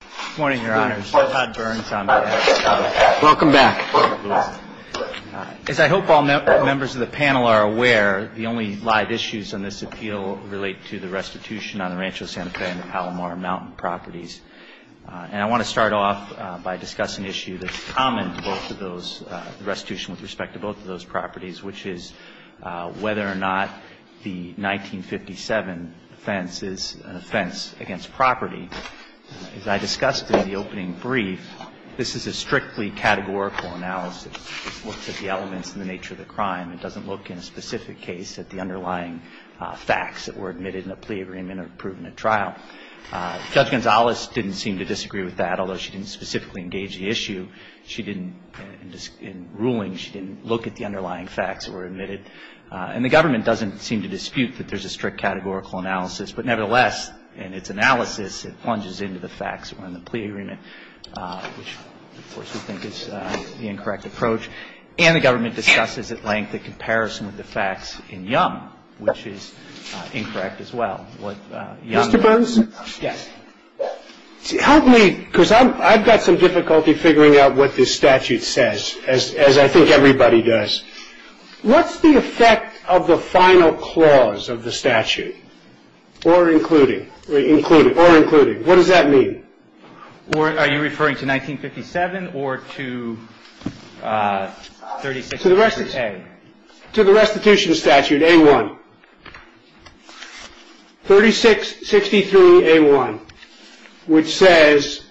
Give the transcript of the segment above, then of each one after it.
Good morning, Your Honors. I'm Todd Burns. Welcome back. As I hope all members of the panel are aware, the only live issues on this appeal relate to the restitution on the Rancho Santa Fe and the Palomar Mountain properties. And I want to start off by discussing an issue that's common to both of those, the restitution with respect to both of those properties, which is whether or not the 1957 offense is an offense against property. As I discussed in the opening brief, this is a strictly categorical analysis. It looks at the elements and the nature of the crime. It doesn't look in a specific case at the underlying facts that were admitted in a plea agreement or proven at trial. Judge Gonzalez didn't seem to disagree with that, although she didn't specifically engage the issue. She didn't, in ruling, she didn't look at the underlying facts that were admitted. And the government doesn't seem to dispute that there's a strict categorical analysis. But nevertheless, in its analysis, it plunges into the facts that were in the plea agreement, which, of course, we think is the incorrect approach. And the government discusses at length the comparison with the facts in Young, which is incorrect as well. Mr. Burns? Yes. Help me, because I've got some difficulty figuring out what this statute says, as I think everybody does. What's the effect of the final clause of the statute? Or including. Including. Or including. What does that mean? Are you referring to 1957 or to 36A? To the restitution statute, A1. 3663A1, which says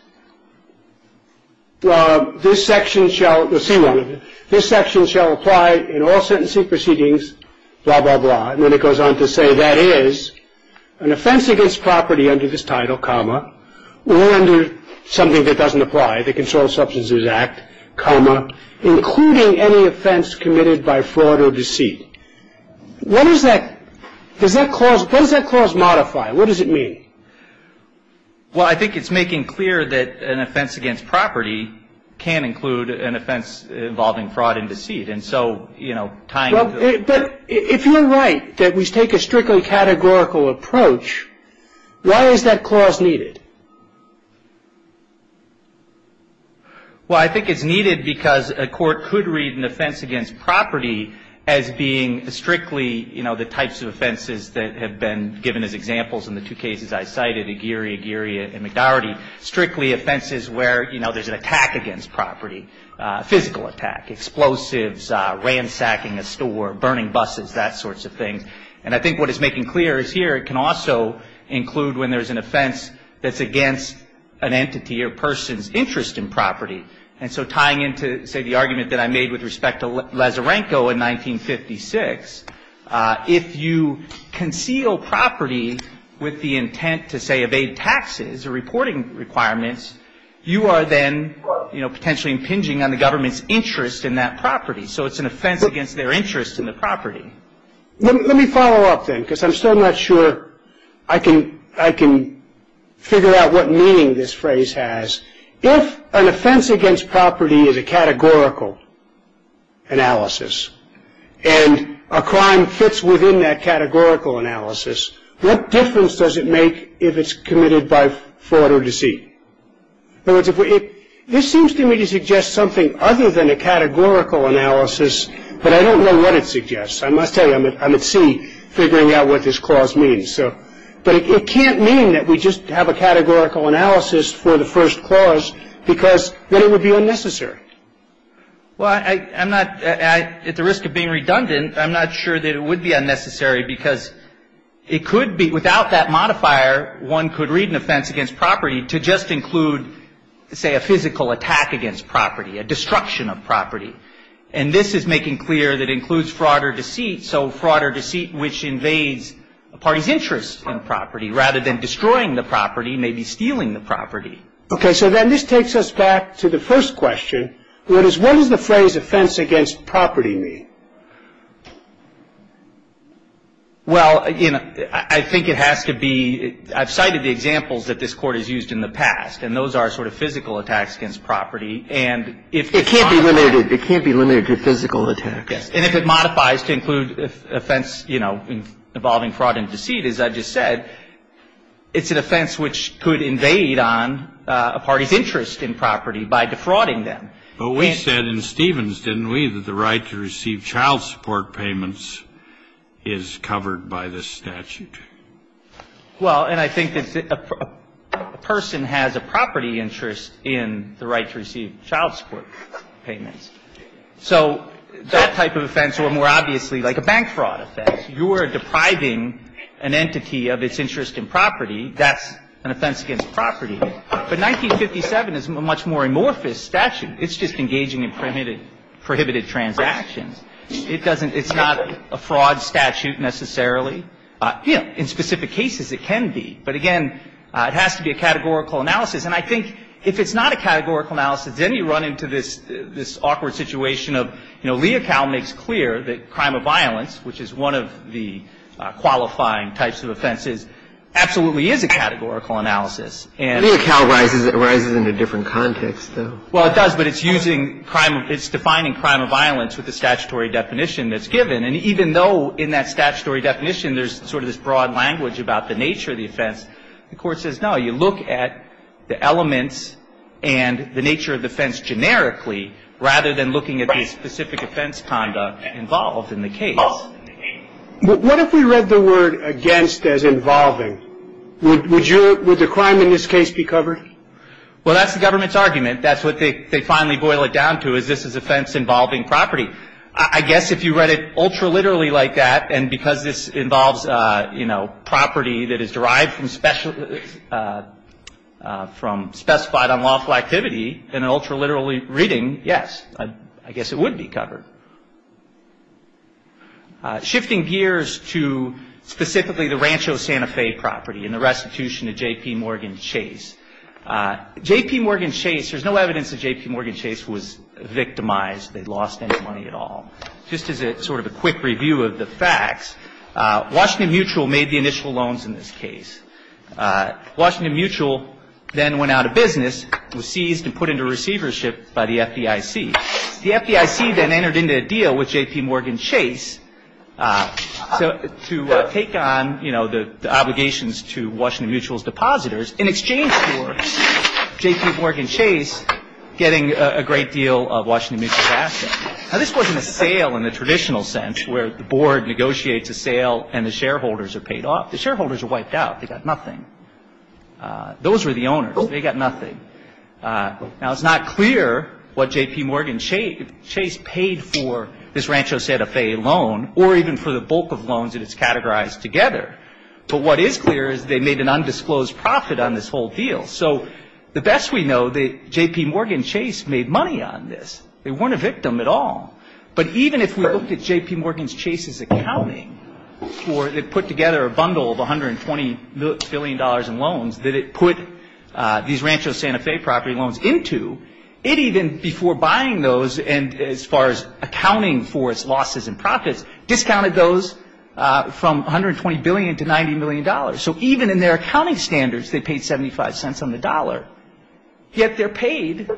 this section shall apply in all sentencing proceedings, blah, blah, blah. And then it goes on to say that is an offense against property under this title, comma, or under something that doesn't apply, the Controlled Substances Act, comma, including any offense committed by fraud or deceit. What does that clause modify? What does it mean? Well, I think it's making clear that an offense against property can include an offense involving fraud and deceit. And so, you know, tying the... But if you're right that we take a strictly categorical approach, why is that clause needed? Well, I think it's needed because a court could read an offense against property as being strictly, you know, the types of offenses that have been given as examples in the two cases I cited, Aguirre, Aguirre, and McDowarty, strictly offenses where, you know, there's an attack against property, physical attack, explosives, ransacking a store, burning buses, that sorts of things. And I think what it's making clear is here it can also include when there's an offense that's being against an entity or person's interest in property. And so tying into, say, the argument that I made with respect to Lazarenko in 1956, if you conceal property with the intent to, say, evade taxes or reporting requirements, you are then, you know, potentially impinging on the government's interest in that property. So it's an offense against their interest in the property. Let me follow up then because I'm still not sure I can figure out what meaning this phrase has. If an offense against property is a categorical analysis and a crime fits within that categorical analysis, what difference does it make if it's committed by fraud or deceit? In other words, this seems to me to suggest something other than a categorical analysis, but I don't know what it suggests. I must tell you, I'm at sea figuring out what this clause means. But it can't mean that we just have a categorical analysis for the first clause because then it would be unnecessary. Well, I'm not at the risk of being redundant. I'm not sure that it would be unnecessary because it could be without that modifier, one could read an offense against property to just include, say, a physical attack against property, a destruction of property. And this is making clear that it includes fraud or deceit, so fraud or deceit which invades a party's interest in property rather than destroying the property, maybe stealing the property. Okay. So then this takes us back to the first question, which is what does the phrase offense against property mean? Well, I think it has to be, I've cited the examples that this Court has used in the past, and those are sort of physical attacks against property. It can't be limited to physical attacks. Yes. And if it modifies to include offense involving fraud and deceit, as I just said, it's an offense which could invade on a party's interest in property by defrauding them. But we said in Stevens, didn't we, that the right to receive child support payments is covered by this statute. Well, and I think that a person has a property interest in the right to receive child support payments. So that type of offense, or more obviously like a bank fraud offense, you are depriving an entity of its interest in property. That's an offense against property. But 1957 is a much more amorphous statute. It's just engaging in prohibited transactions. It doesn't – it's not a fraud statute necessarily. You know, in specific cases it can be. But again, it has to be a categorical analysis. And I think if it's not a categorical analysis, then you run into this awkward situation of, you know, Leocal makes clear that crime of violence, which is one of the qualifying types of offenses, absolutely is a categorical analysis. Leocal arises in a different context, though. Well, it does, but it's using crime – it's defining crime of violence with the statutory definition that's given. And even though in that statutory definition there's sort of this broad language about the nature of the offense, the Court says no, you look at the elements and the nature of the offense generically rather than looking at the specific offense conduct involved in the case. What if we read the word against as involving? Would you – would the crime in this case be covered? Well, that's the government's argument. That's what they finally boil it down to is this is offense involving property. I guess if you read it ultraliterally like that, and because this involves, you know, property that is derived from specified unlawful activity in an ultraliterally reading, yes, I guess it would be covered. Shifting gears to specifically the Rancho Santa Fe property and the restitution of J.P. Morgan Chase. J.P. Morgan Chase – there's no evidence that J.P. Morgan Chase was victimized. They lost any money at all. Just as a sort of a quick review of the facts, Washington Mutual made the initial loans in this case. Washington Mutual then went out of business, was seized and put into receivership by the FDIC. The FDIC then entered into a deal with J.P. Morgan Chase to take on, you know, the obligations to Washington Mutual's depositors in exchange for J.P. Morgan Chase getting a great deal of Washington Mutual's assets. Now, this wasn't a sale in the traditional sense where the board negotiates a sale and the shareholders are paid off. The shareholders are wiped out. They got nothing. Those were the owners. They got nothing. Now, it's not clear what J.P. Morgan Chase paid for this Rancho Santa Fe loan or even for the bulk of loans that it's categorized together. But what is clear is they made an undisclosed profit on this whole deal. So the best we know, J.P. Morgan Chase made money on this. They weren't a victim at all. But even if we looked at J.P. Morgan Chase's accounting for it, it put together a bundle of $120 billion in loans that it put these Rancho Santa Fe property loans into. It even, before buying those and as far as accounting for its losses and profits, discounted those from $120 billion to $90 million. So even in their accounting standards, they paid 75 cents on the dollar, yet they're paid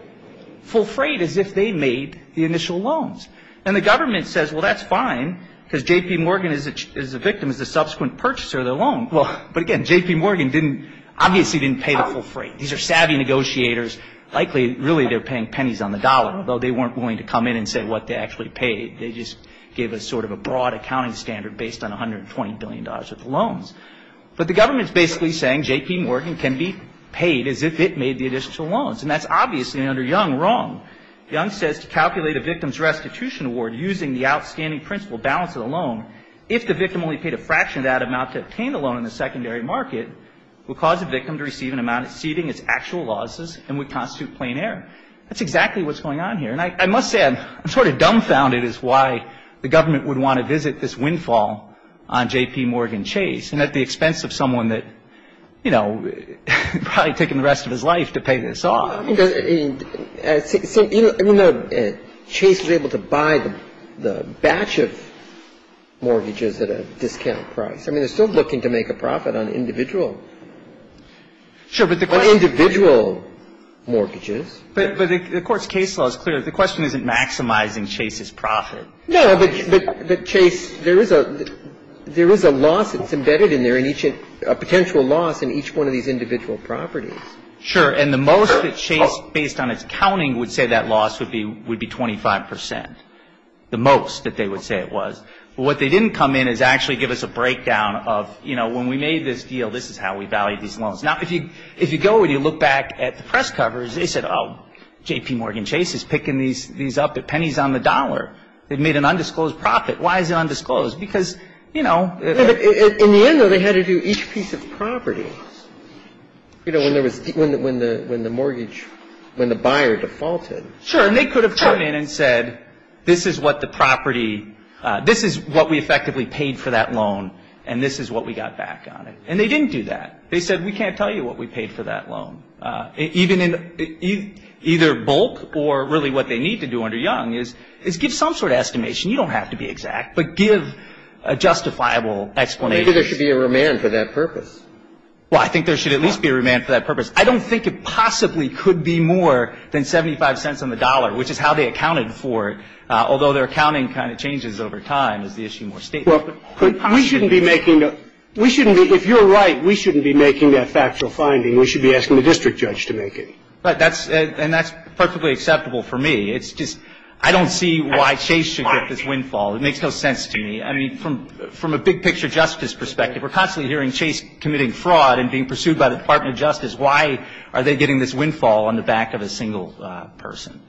full freight as if they made the initial loans. And the government says, well, that's fine because J.P. Morgan is a victim, is a subsequent purchaser of the loan. But, again, J.P. Morgan obviously didn't pay the full freight. These are savvy negotiators. Likely, really, they're paying pennies on the dollar, though they weren't willing to come in and say what they actually paid. They just gave us sort of a broad accounting standard based on $120 billion worth of loans. But the government's basically saying J.P. Morgan can be paid as if it made the initial loans. And that's obviously, under Young, wrong. Young says to calculate a victim's restitution award using the outstanding principal balance of the loan, if the victim only paid a fraction of that amount to obtain the loan in the secondary market, would cause the victim to receive an amount exceeding its actual losses and would constitute plain error. That's exactly what's going on here. And I must say, I'm sort of dumbfounded as to why the government would want to visit this windfall on J.P. Morgan Chase and at the expense of someone that, you know, probably taken the rest of his life to pay this off. I mean, Chase was able to buy the batch of mortgages at a discount price. I mean, they're still looking to make a profit on individual. Sure, but the question is the individual mortgages. But the Court's case law is clear. The question isn't maximizing Chase's profit. No, but Chase, there is a loss that's embedded in there, a potential loss in each one of these individual properties. Sure. And the most that Chase, based on its counting, would say that loss would be 25 percent, the most that they would say it was. But what they didn't come in is actually give us a breakdown of, you know, when we made this deal, this is how we valued these loans. Now, if you go and you look back at the press covers, they said, oh, J.P. Morgan Chase is picking these up at pennies on the dollar. They've made an undisclosed profit. Why is it undisclosed? Because, you know. In the end, though, they had to do each piece of property, you know, when the mortgage, when the buyer defaulted. Sure. And they could have come in and said, this is what the property, this is what we effectively paid for that loan, and this is what we got back on it. And they didn't do that. They said, we can't tell you what we paid for that loan. Even in either bulk or really what they need to do under Young is give some sort of estimation. You don't have to be exact, but give a justifiable explanation. Maybe there should be a remand for that purpose. Well, I think there should at least be a remand for that purpose. I don't think it possibly could be more than 75 cents on the dollar, which is how they accounted for it, although their accounting kind of changes over time, as the issue more states. Well, we shouldn't be making the, we shouldn't be, if you're right, we shouldn't be making that factual finding. We should be asking the district judge to make it. Right. And that's perfectly acceptable for me. It's just, I don't see why Chase should get this windfall. It makes no sense to me. I mean, from a big picture justice perspective, we're constantly hearing Chase committing fraud and being pursued by the Department of Justice. Why are they getting this windfall on the back of a single person?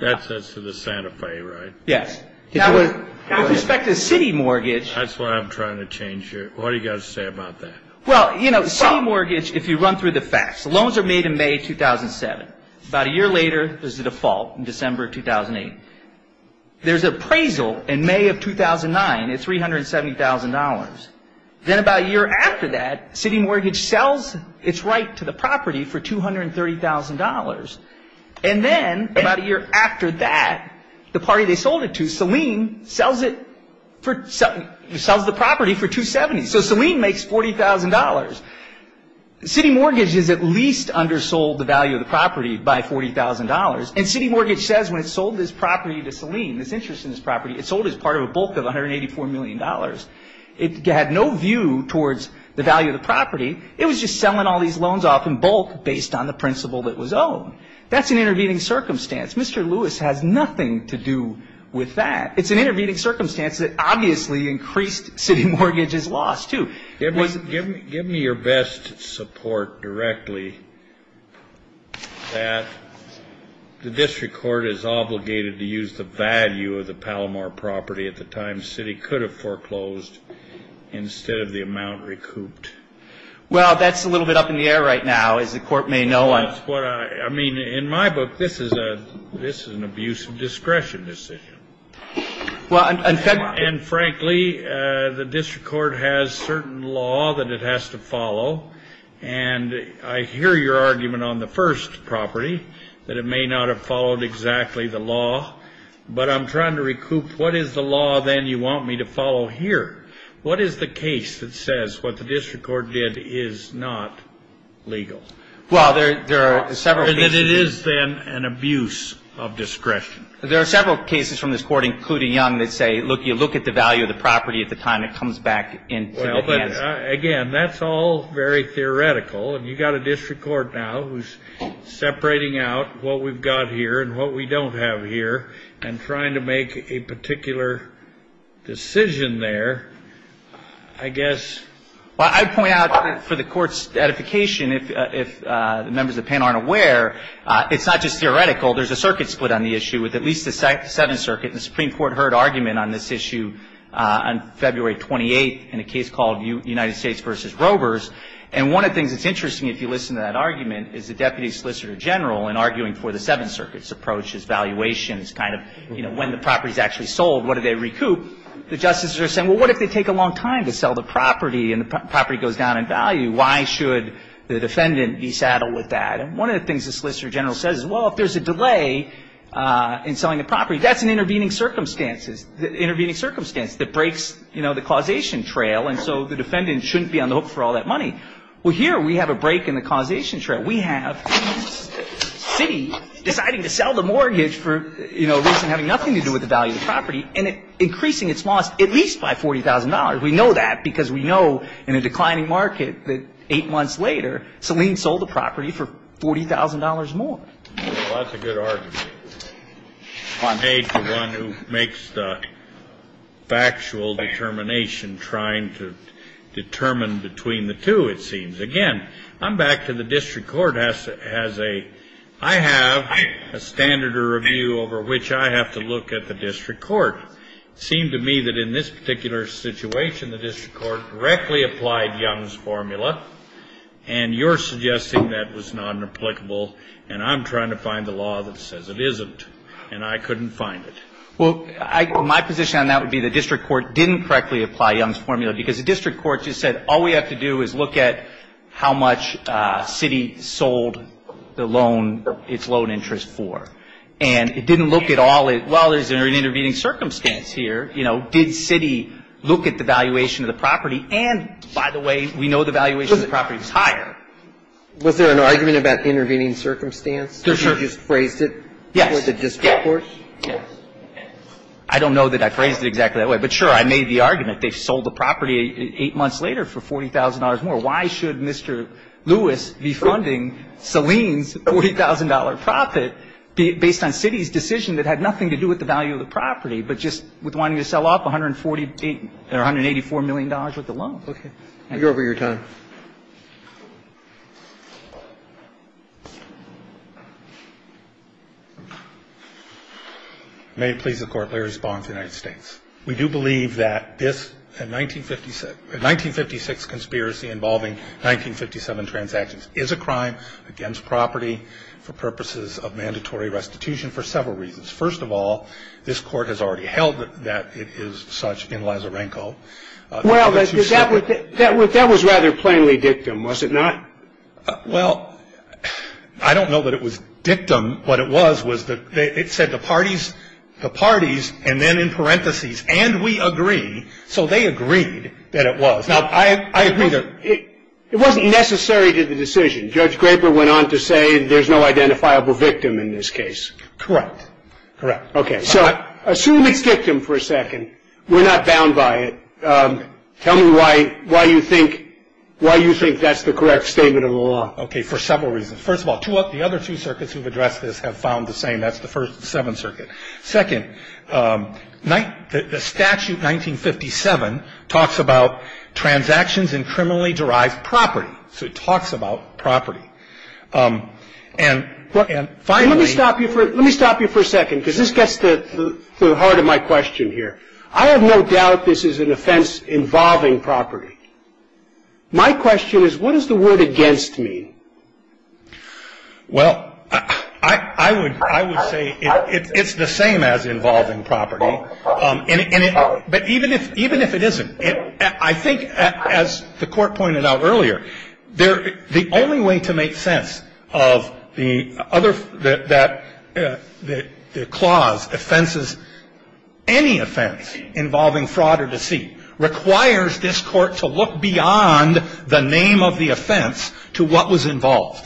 That's to the Santa Fe, right? Yes. Now, with respect to the city mortgage. That's what I'm trying to change here. What do you got to say about that? Well, you know, city mortgage, if you run through the facts, loans are made in May 2007. About a year later, there's a default in December 2008. There's appraisal in May of 2009 at $370,000. Then about a year after that, city mortgage sells its right to the property for $230,000. And then about a year after that, the party they sold it to, Saleem, sells the property for $270,000. So Saleem makes $40,000. City mortgage is at least undersold the value of the property by $40,000. And city mortgage says when it sold this property to Saleem, this interest in this property, it sold it as part of a bulk of $184 million. It had no view towards the value of the property. It was just selling all these loans off in bulk based on the principal that was owned. That's an intervening circumstance. Mr. Lewis has nothing to do with that. It's an intervening circumstance that obviously increased city mortgage's loss, too. Give me your best support directly that the district court is obligated to use the value of the Palomar property at the time. The city could have foreclosed instead of the amount recouped. Well, that's a little bit up in the air right now, as the court may know. I mean, in my book, this is an abuse of discretion decision. And frankly, the district court has certain law that it has to follow. And I hear your argument on the first property that it may not have followed exactly the law. But I'm trying to recoup what is the law, then, you want me to follow here? What is the case that says what the district court did is not legal? Well, there are several cases. And that it is, then, an abuse of discretion. There are several cases from this court, including Young, that say, look, you look at the value of the property at the time it comes back into the hands. Well, but, again, that's all very theoretical. And you've got a district court now who's separating out what we've got here and what we don't have here and trying to make a particular decision there, I guess. Well, I'd point out for the court's edification, if the members of the panel aren't aware, it's not just theoretical. There's a circuit split on the issue with at least the Seventh Circuit. And the Supreme Court heard argument on this issue on February 28th in a case called United States v. Robers. And one of the things that's interesting, if you listen to that argument, is the deputy solicitor general, in arguing for the Seventh Circuit's approach, his valuation, his kind of, you know, when the property's actually sold, what do they recoup? The justices are saying, well, what if they take a long time to sell the property and the property goes down in value? Why should the defendant be saddled with that? And one of the things the solicitor general says is, well, if there's a delay in selling the property, that's an intervening circumstance. It's an intervening circumstance that breaks, you know, the causation trail. And so the defendant shouldn't be on the hook for all that money. Well, here we have a break in the causation trail. We have the city deciding to sell the mortgage for, you know, reason having nothing to do with the value of the property and increasing its loss at least by $40,000. We know that because we know in a declining market that eight months later, Selene sold the property for $40,000 more. Well, that's a good argument made to one who makes the factual determination trying to determine between the two, it seems. Again, I'm back to the district court has a ‑‑ I have a standard of review over which I have to look at the district court. It seemed to me that in this particular situation, the district court directly applied Young's formula, and you're suggesting that was nonreplicable. And I'm trying to find the law that says it isn't, and I couldn't find it. Well, I ‑‑ my position on that would be the district court didn't correctly apply Young's formula because the district court just said all we have to do is look at how much city sold the loan, its loan interest for. And it didn't look at all ‑‑ well, there's an intervening circumstance here. You know, did city look at the valuation of the property? And, by the way, we know the valuation of the property is higher. Was there an argument about intervening circumstance? Did you just phrase it with the district court? Yes. Yes. I don't know that I phrased it exactly that way. But, sure, I made the argument. They sold the property eight months later for $40,000 more. Why should Mr. Lewis be funding Saleen's $40,000 profit based on city's decision that had nothing to do with the value of the property, but just with wanting to sell off $184 million worth of loans? Okay. Thank you for your time. May it please the Court, Larry Spohn of the United States. We do believe that this 1956 conspiracy involving 1957 transactions is a crime against property for purposes of mandatory restitution for several reasons. First of all, this Court has already held that it is such in Lazarenko. Well, that was rather plainly dictum, was it not? Well, I don't know that it was dictum. What it was was it said the parties, the parties, and then in parentheses, and we agree. So they agreed that it was. Now, I agree. It wasn't necessary to the decision. Judge Graper went on to say there's no identifiable victim in this case. Correct. Okay. So assume it's dictum for a second. We're not bound by it. Tell me why you think that's the correct statement of the law. Okay, for several reasons. First of all, the other two circuits who've addressed this have found the same. That's the first, the Seventh Circuit. Second, the statute 1957 talks about transactions in criminally derived property. So it talks about property. And finally. Let me stop you for a second because this gets to the heart of my question here. I have no doubt this is an offense involving property. My question is what does the word against mean? Well, I would say it's the same as involving property. But even if it isn't, I think as the Court pointed out earlier, the only way to make sense of the other, the clause offenses, any offense involving fraud or deceit requires this Court to look beyond the name of the offense to what was involved.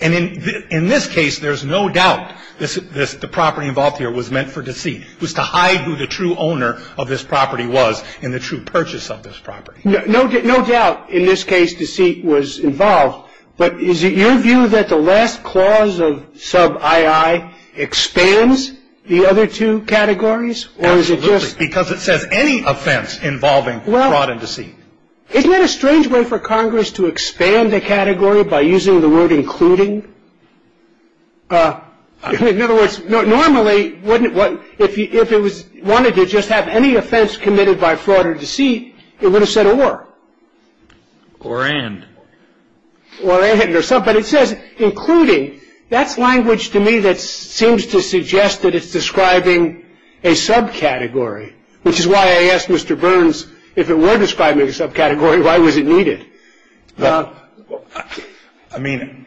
And in this case, there's no doubt the property involved here was meant for deceit, was to hide who the true owner of this property was and the true purchase of this property. No doubt in this case deceit was involved. But is it your view that the last clause of sub I.I. expands the other two categories? Absolutely. Because it says any offense involving fraud and deceit. Isn't it a strange way for Congress to expand the category by using the word including? In other words, normally if it wanted to just have any offense committed by fraud or deceit, it would have said or. Or and. Or and or sub. But it says including. That's language to me that seems to suggest that it's describing a subcategory, which is why I asked Mr. Burns if it were describing a subcategory, why was it needed? Well, I mean,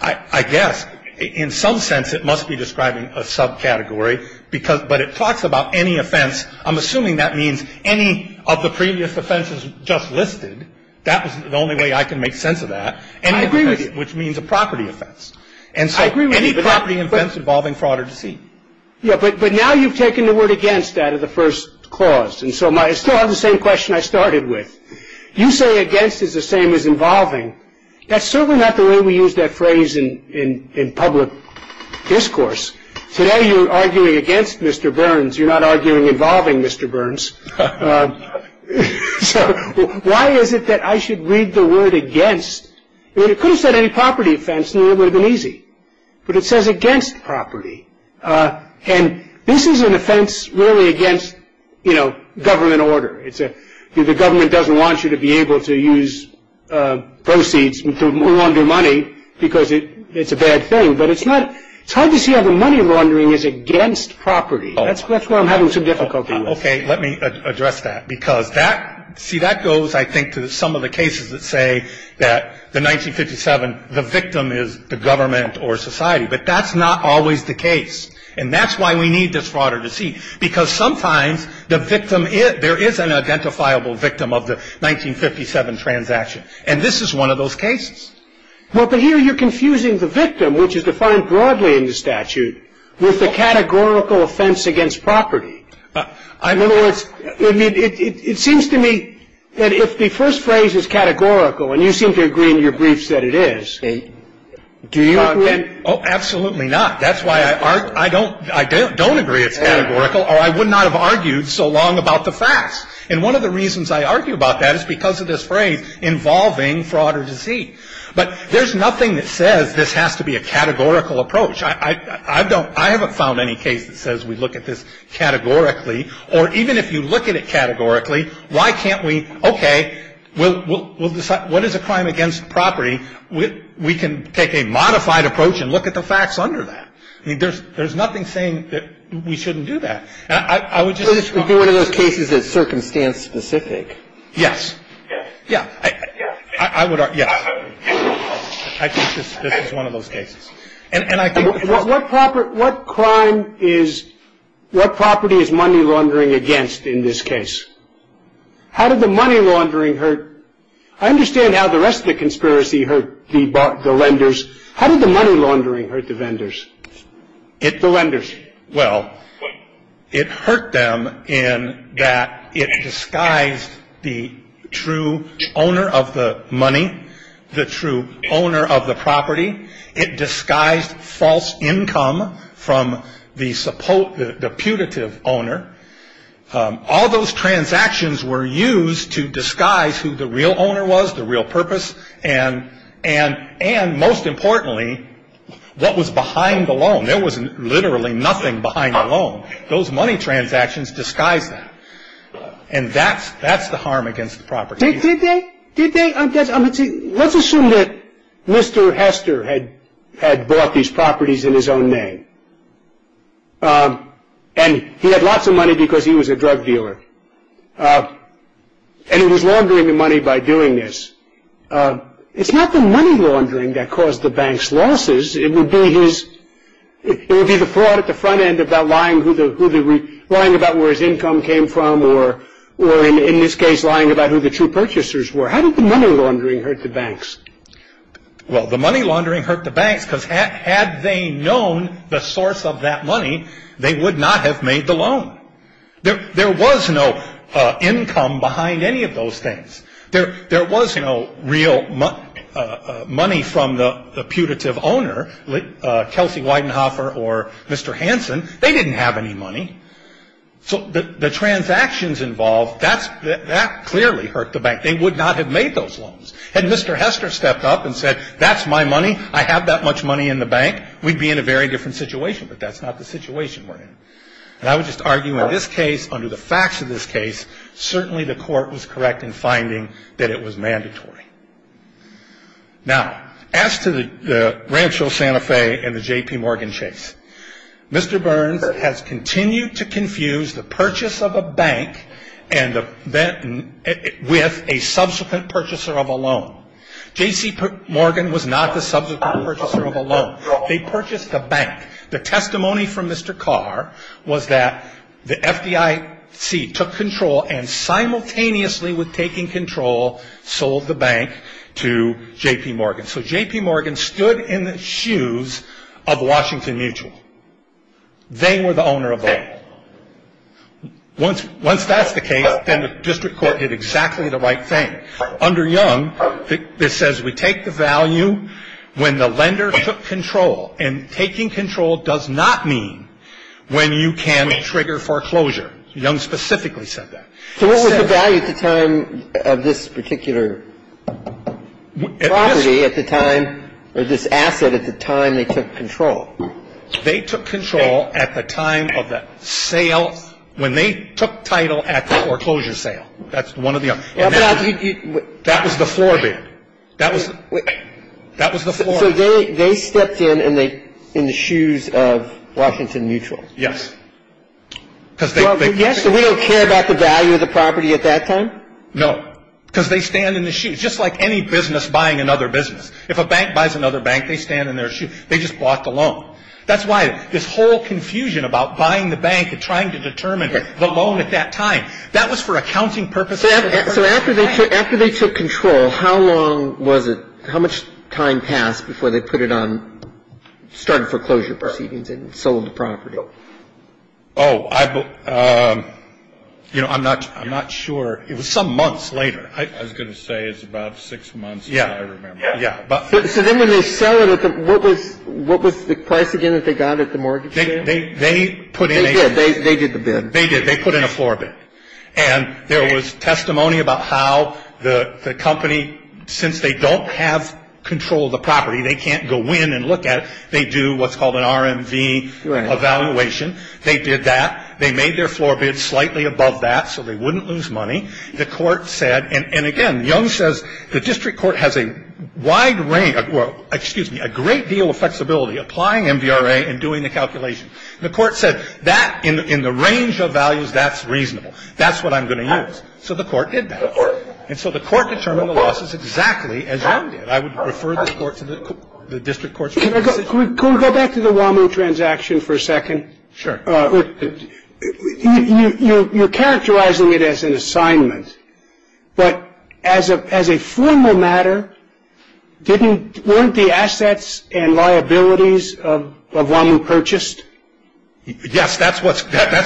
I guess in some sense it must be describing a subcategory. But it talks about any offense. I'm assuming that means any of the previous offenses just listed. That was the only way I can make sense of that. And I agree with you. Which means a property offense. And so any property offense involving fraud or deceit. Yeah, but now you've taken the word against out of the first clause. And so I still have the same question I started with. You say against is the same as involving. That's certainly not the way we use that phrase in public discourse. Today, you're arguing against Mr. Burns. You're not arguing involving Mr. Burns. So why is it that I should read the word against? It could have said any property offense and it would have been easy. But it says against property. And this is an offense really against, you know, government order. The government doesn't want you to be able to use proceeds to launder money because it's a bad thing. But it's not – it's hard to see how the money laundering is against property. That's why I'm having some difficulty with it. Okay. Let me address that. Because that – see, that goes, I think, to some of the cases that say that the 1957, the victim is the government or society. But that's not always the case. And that's why we need this fraud or deceit. Because sometimes the victim is – there is an identifiable victim of the 1957 transaction. And this is one of those cases. Well, but here you're confusing the victim, which is defined broadly in the statute, with the categorical offense against property. In other words, it seems to me that if the first phrase is categorical, and you seem to agree in your briefs that it is, do you agree? Oh, absolutely not. That's why I don't agree it's categorical or I would not have argued so long about the facts. And one of the reasons I argue about that is because of this phrase, involving fraud or deceit. But there's nothing that says this has to be a categorical approach. I don't – I haven't found any case that says we look at this categorically. Or even if you look at it categorically, why can't we – okay, we'll decide – what is a crime against property? We can take a modified approach and look at the facts under that. I mean, there's nothing saying that we shouldn't do that. I would just – So this would be one of those cases that's circumstance-specific? Yes. Yes. Yes. I would argue – yes. I think this is one of those cases. And I think – What property – what crime is – what property is money laundering against in this case? How did the money laundering hurt – I understand how the rest of the conspiracy hurt the lenders. How did the money laundering hurt the vendors? It – The lenders. Well, it hurt them in that it disguised the true owner of the money, the true owner of the property. It disguised false income from the putative owner. All those transactions were used to disguise who the real owner was, the real purpose. And most importantly, what was behind the loan. There was literally nothing behind the loan. Those money transactions disguised that. And that's the harm against the property. Did they? Did they? Let's assume that Mr. Hester had bought these properties in his own name. And he had lots of money because he was a drug dealer. And he was laundering the money by doing this. It's not the money laundering that caused the bank's losses. It would be his – it would be the fraud at the front end about lying who the – lying about where his income came from or, in this case, lying about who the true purchasers were. How did the money laundering hurt the banks? Well, the money laundering hurt the banks because had they known the source of that money, they would not have made the loan. There was no income behind any of those things. There was no real money from the putative owner, Kelsey Weidenhofer or Mr. Hanson. They didn't have any money. So the transactions involved, that clearly hurt the bank. They would not have made those loans. Had Mr. Hester stepped up and said, that's my money, I have that much money in the bank, we'd be in a very different situation. But that's not the situation we're in. And I would just argue in this case, under the facts of this case, certainly the court was correct in finding that it was mandatory. Now, as to the Rancho Santa Fe and the J.P. Morgan chase, Mr. Burns has continued to confuse the purchase of a bank with a subsequent purchaser of a loan. J.C. Morgan was not the subsequent purchaser of a loan. They purchased the bank. The testimony from Mr. Carr was that the FDIC took control and simultaneously with taking control, sold the bank to J.P. Morgan. So J.P. Morgan stood in the shoes of Washington Mutual. They were the owner of the loan. Once that's the case, then the district court did exactly the right thing. Under Young, this says we take the value when the lender took control. And taking control does not mean when you can trigger foreclosure. Young specifically said that. So what was the value at the time of this particular property at the time, or this asset at the time they took control? They took control at the time of the sale, when they took title at the foreclosure sale. That's one or the other. That was the floor bid. That was the floor bid. So they stepped in in the shoes of Washington Mutual. Yes. So we don't care about the value of the property at that time? No, because they stand in the shoes, just like any business buying another business. If a bank buys another bank, they stand in their shoes. They just bought the loan. That's why this whole confusion about buying the bank and trying to determine the loan at that time, that was for accounting purposes. So after they took control, how long was it, how much time passed before they put it on, started foreclosure proceedings and sold the property? Oh, I, you know, I'm not sure. It was some months later. I was going to say it was about six months. Yeah. Yeah. So then when they sell it, what was the price again that they got at the mortgage sale? They put in a bid. They did the bid. They did. They put in a floor bid. And there was testimony about how the company, since they don't have control of the property, they can't go in and look at it, they do what's called an RMV evaluation. They did that. They made their floor bid slightly above that so they wouldn't lose money. The court said, and again, Young says the district court has a wide range, well, excuse me, a great deal of flexibility applying MVRA and doing the calculation. The court said that in the range of values, that's reasonable. That's what I'm going to use. So the court did that. And so the court determined the losses exactly as Young did. I would refer the court to the district court. Can we go back to the WAMU transaction for a second? Sure. You're characterizing it as an assignment, but as a formal matter, weren't the assets and liabilities of WAMU purchased? Yes, that's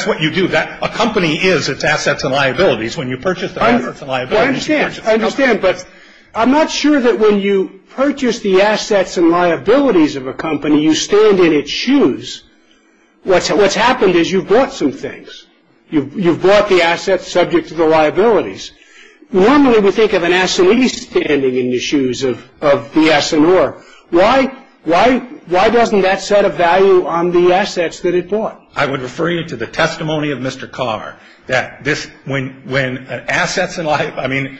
what you do. A company is its assets and liabilities. When you purchase the assets and liabilities, you purchase the company. I understand, but I'm not sure that when you purchase the assets and liabilities of a company, you stand in its shoes. What's happened is you've bought some things. You've bought the assets subject to the liabilities. Normally we think of an assignee standing in the shoes of the assigneur. Why doesn't that set a value on the assets that it bought? I would refer you to the testimony of Mr. Carr that this, when assets and liabilities, I mean,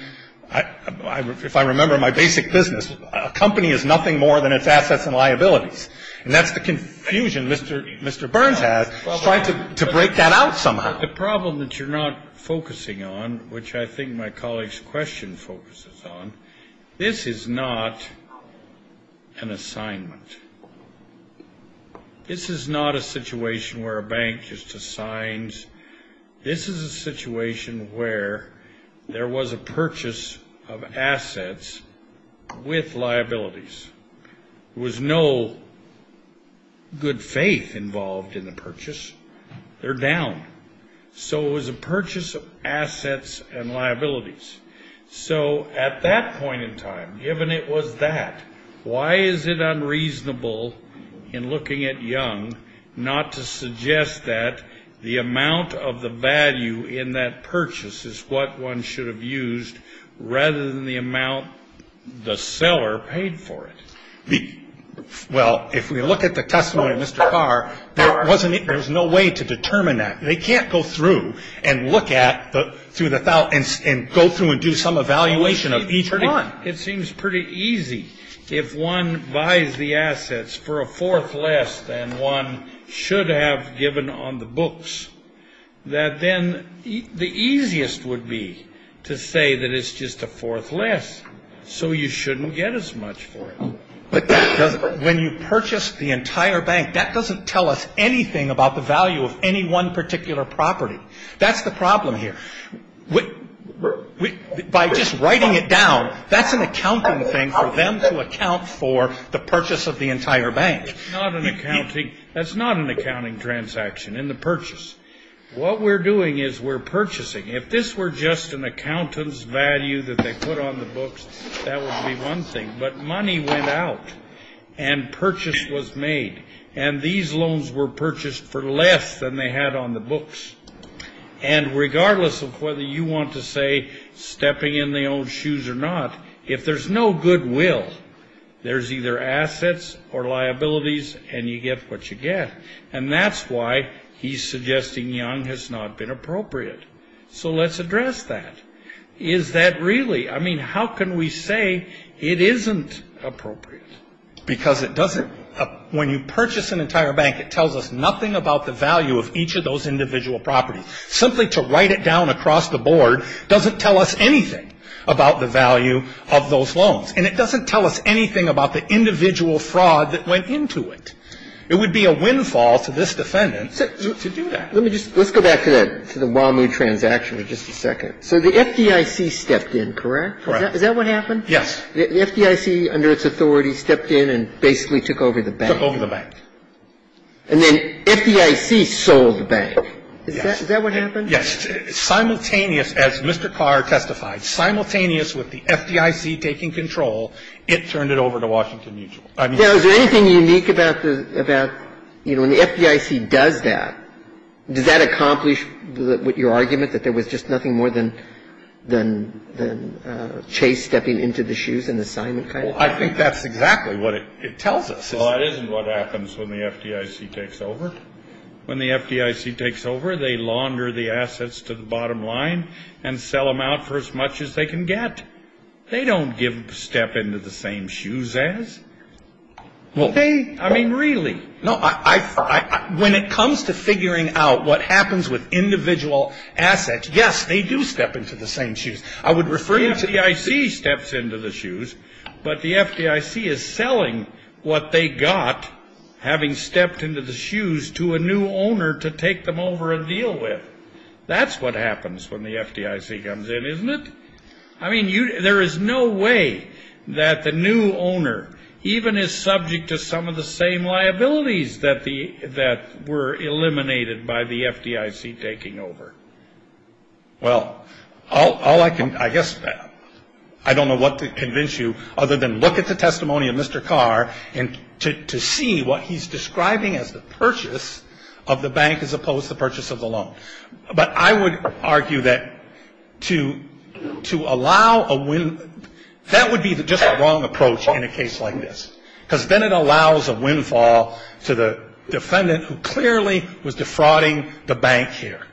if I remember my basic business, a company is nothing more than its assets and liabilities. And that's the confusion Mr. Burns had trying to break that out somehow. The problem that you're not focusing on, which I think my colleague's question focuses on, this is not an assignment. This is not a situation where a bank just assigns. This is a situation where there was a purchase of assets with liabilities. There was no good faith involved in the purchase. They're down. So it was a purchase of assets and liabilities. So at that point in time, given it was that, why is it unreasonable in looking at Young not to suggest that the amount of the value in that purchase is what one should have used rather than the amount the seller paid for it? Well, if we look at the testimony of Mr. Carr, there was no way to determine that. They can't go through and look at through the file and go through and do some evaluation of each one. It seems pretty easy. If one buys the assets for a fourth less than one should have given on the books, that then the easiest would be to say that it's just a fourth less. So you shouldn't get as much for it. But when you purchase the entire bank, that doesn't tell us anything about the value of any one particular property. That's the problem here. By just writing it down, that's an accounting thing for them to account for the purchase of the entire bank. That's not an accounting transaction in the purchase. What we're doing is we're purchasing. If this were just an accountant's value that they put on the books, that would be one thing. But money went out and purchase was made. And these loans were purchased for less than they had on the books. And regardless of whether you want to say stepping in their own shoes or not, if there's no goodwill, there's either assets or liabilities and you get what you get. And that's why he's suggesting Young has not been appropriate. So let's address that. Is that really? I mean, how can we say it isn't appropriate? Because when you purchase an entire bank, it tells us nothing about the value of each of those individual properties. Simply to write it down across the board doesn't tell us anything about the value of those loans. And it doesn't tell us anything about the individual fraud that went into it. It would be a windfall to this defendant to do that. Let's go back to the WAMU transaction for just a second. So the FDIC stepped in, correct? Correct. Is that what happened? Yes. The FDIC, under its authority, stepped in and basically took over the bank. Took over the bank. And then FDIC sold the bank. Is that what happened? Yes. Simultaneous, as Mr. Carr testified, simultaneous with the FDIC taking control, it turned it over to Washington Mutual. Now, is there anything unique about the – about, you know, when the FDIC does that, does that accomplish what your argument, that there was just nothing more than Chase stepping into the shoes and the assignment kind of thing? Well, I think that's exactly what it tells us. Well, that isn't what happens when the FDIC takes over. When the FDIC takes over, they launder the assets to the bottom line and sell them out for as much as they can get. They don't step into the same shoes as. Well, they – I mean, really. No, I – when it comes to figuring out what happens with individual assets, yes, they do step into the same shoes. The FDIC steps into the shoes, but the FDIC is selling what they got, having stepped into the shoes, to a new owner to take them over and deal with. That's what happens when the FDIC comes in, isn't it? I mean, there is no way that the new owner even is subject to some of the same liabilities that were eliminated by the FDIC taking over. Well, all I can – I guess I don't know what to convince you other than look at the testimony of Mr. Carr and to see what he's describing as the purchase of the bank as opposed to the purchase of the loan. But I would argue that to allow a – that would be just the wrong approach in a case like this, because then it allows a windfall to the defendant who clearly was defrauding the bank here.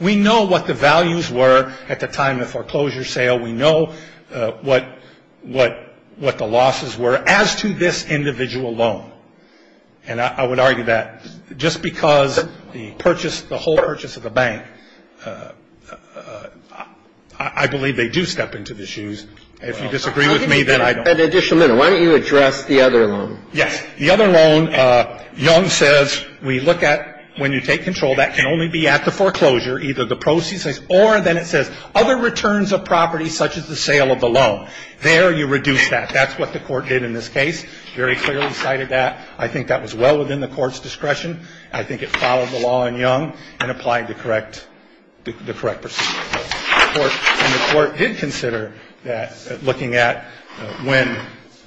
We know what the values were at the time of the foreclosure sale. We know what the losses were as to this individual loan. And I would argue that just because the purchase – the whole purchase of the bank, I believe they do step into the shoes. If you disagree with me, then I don't – Just a minute. Why don't you address the other loan? Yes. The other loan, Young says we look at when you take control, that can only be at the foreclosure, either the proceeds or then it says other returns of property such as the sale of the loan. There you reduce that. That's what the Court did in this case, very clearly cited that. I think that was well within the Court's discretion. I think it followed the law in Young and applied the correct – the correct procedure. And the Court did consider that, looking at when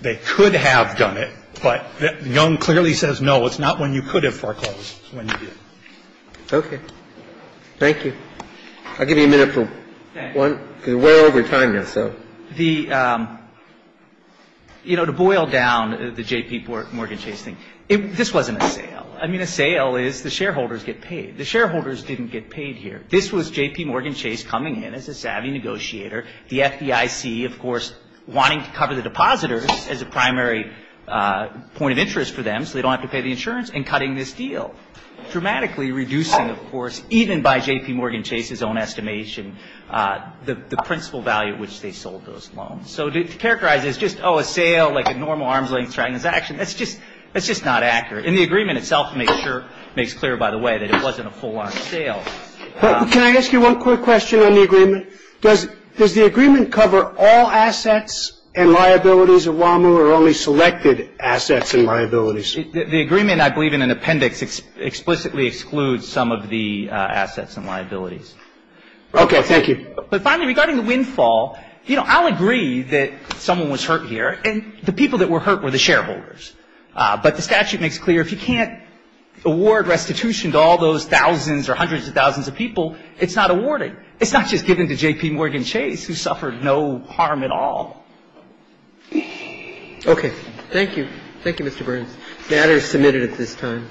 they could have done it, but Young clearly says no, it's not when you could have foreclosed, it's when you did. Okay. Thank you. I'll give you a minute for one, because we're way over time here, so. The – you know, to boil down the J.P. Morgan Chase thing, this wasn't a sale. I mean, a sale is the shareholders get paid. The shareholders didn't get paid here. This was J.P. Morgan Chase coming in as a savvy negotiator. The FDIC, of course, wanting to cover the depositors as a primary point of interest for them so they don't have to pay the insurance and cutting this deal, dramatically reducing, of course, even by J.P. Morgan Chase's own estimation, the principal value at which they sold those loans. So to characterize it as just, oh, a sale, like a normal arm's-length transaction, that's just – that's just not accurate. And the agreement itself makes clear, by the way, that it wasn't a full-on sale. Can I ask you one quick question on the agreement? Does the agreement cover all assets and liabilities of WAMU or only selected assets and liabilities? The agreement, I believe, in an appendix explicitly excludes some of the assets and liabilities. Okay. Thank you. But finally, regarding the windfall, you know, I'll agree that someone was hurt here, and the people that were hurt were the shareholders. But the statute makes clear if you can't award restitution to all those thousands or hundreds of thousands of people, it's not awarded. It's not just given to J.P. Morgan Chase, who suffered no harm at all. Okay. Thank you. Thank you, Mr. Burns. The matter is submitted at this time.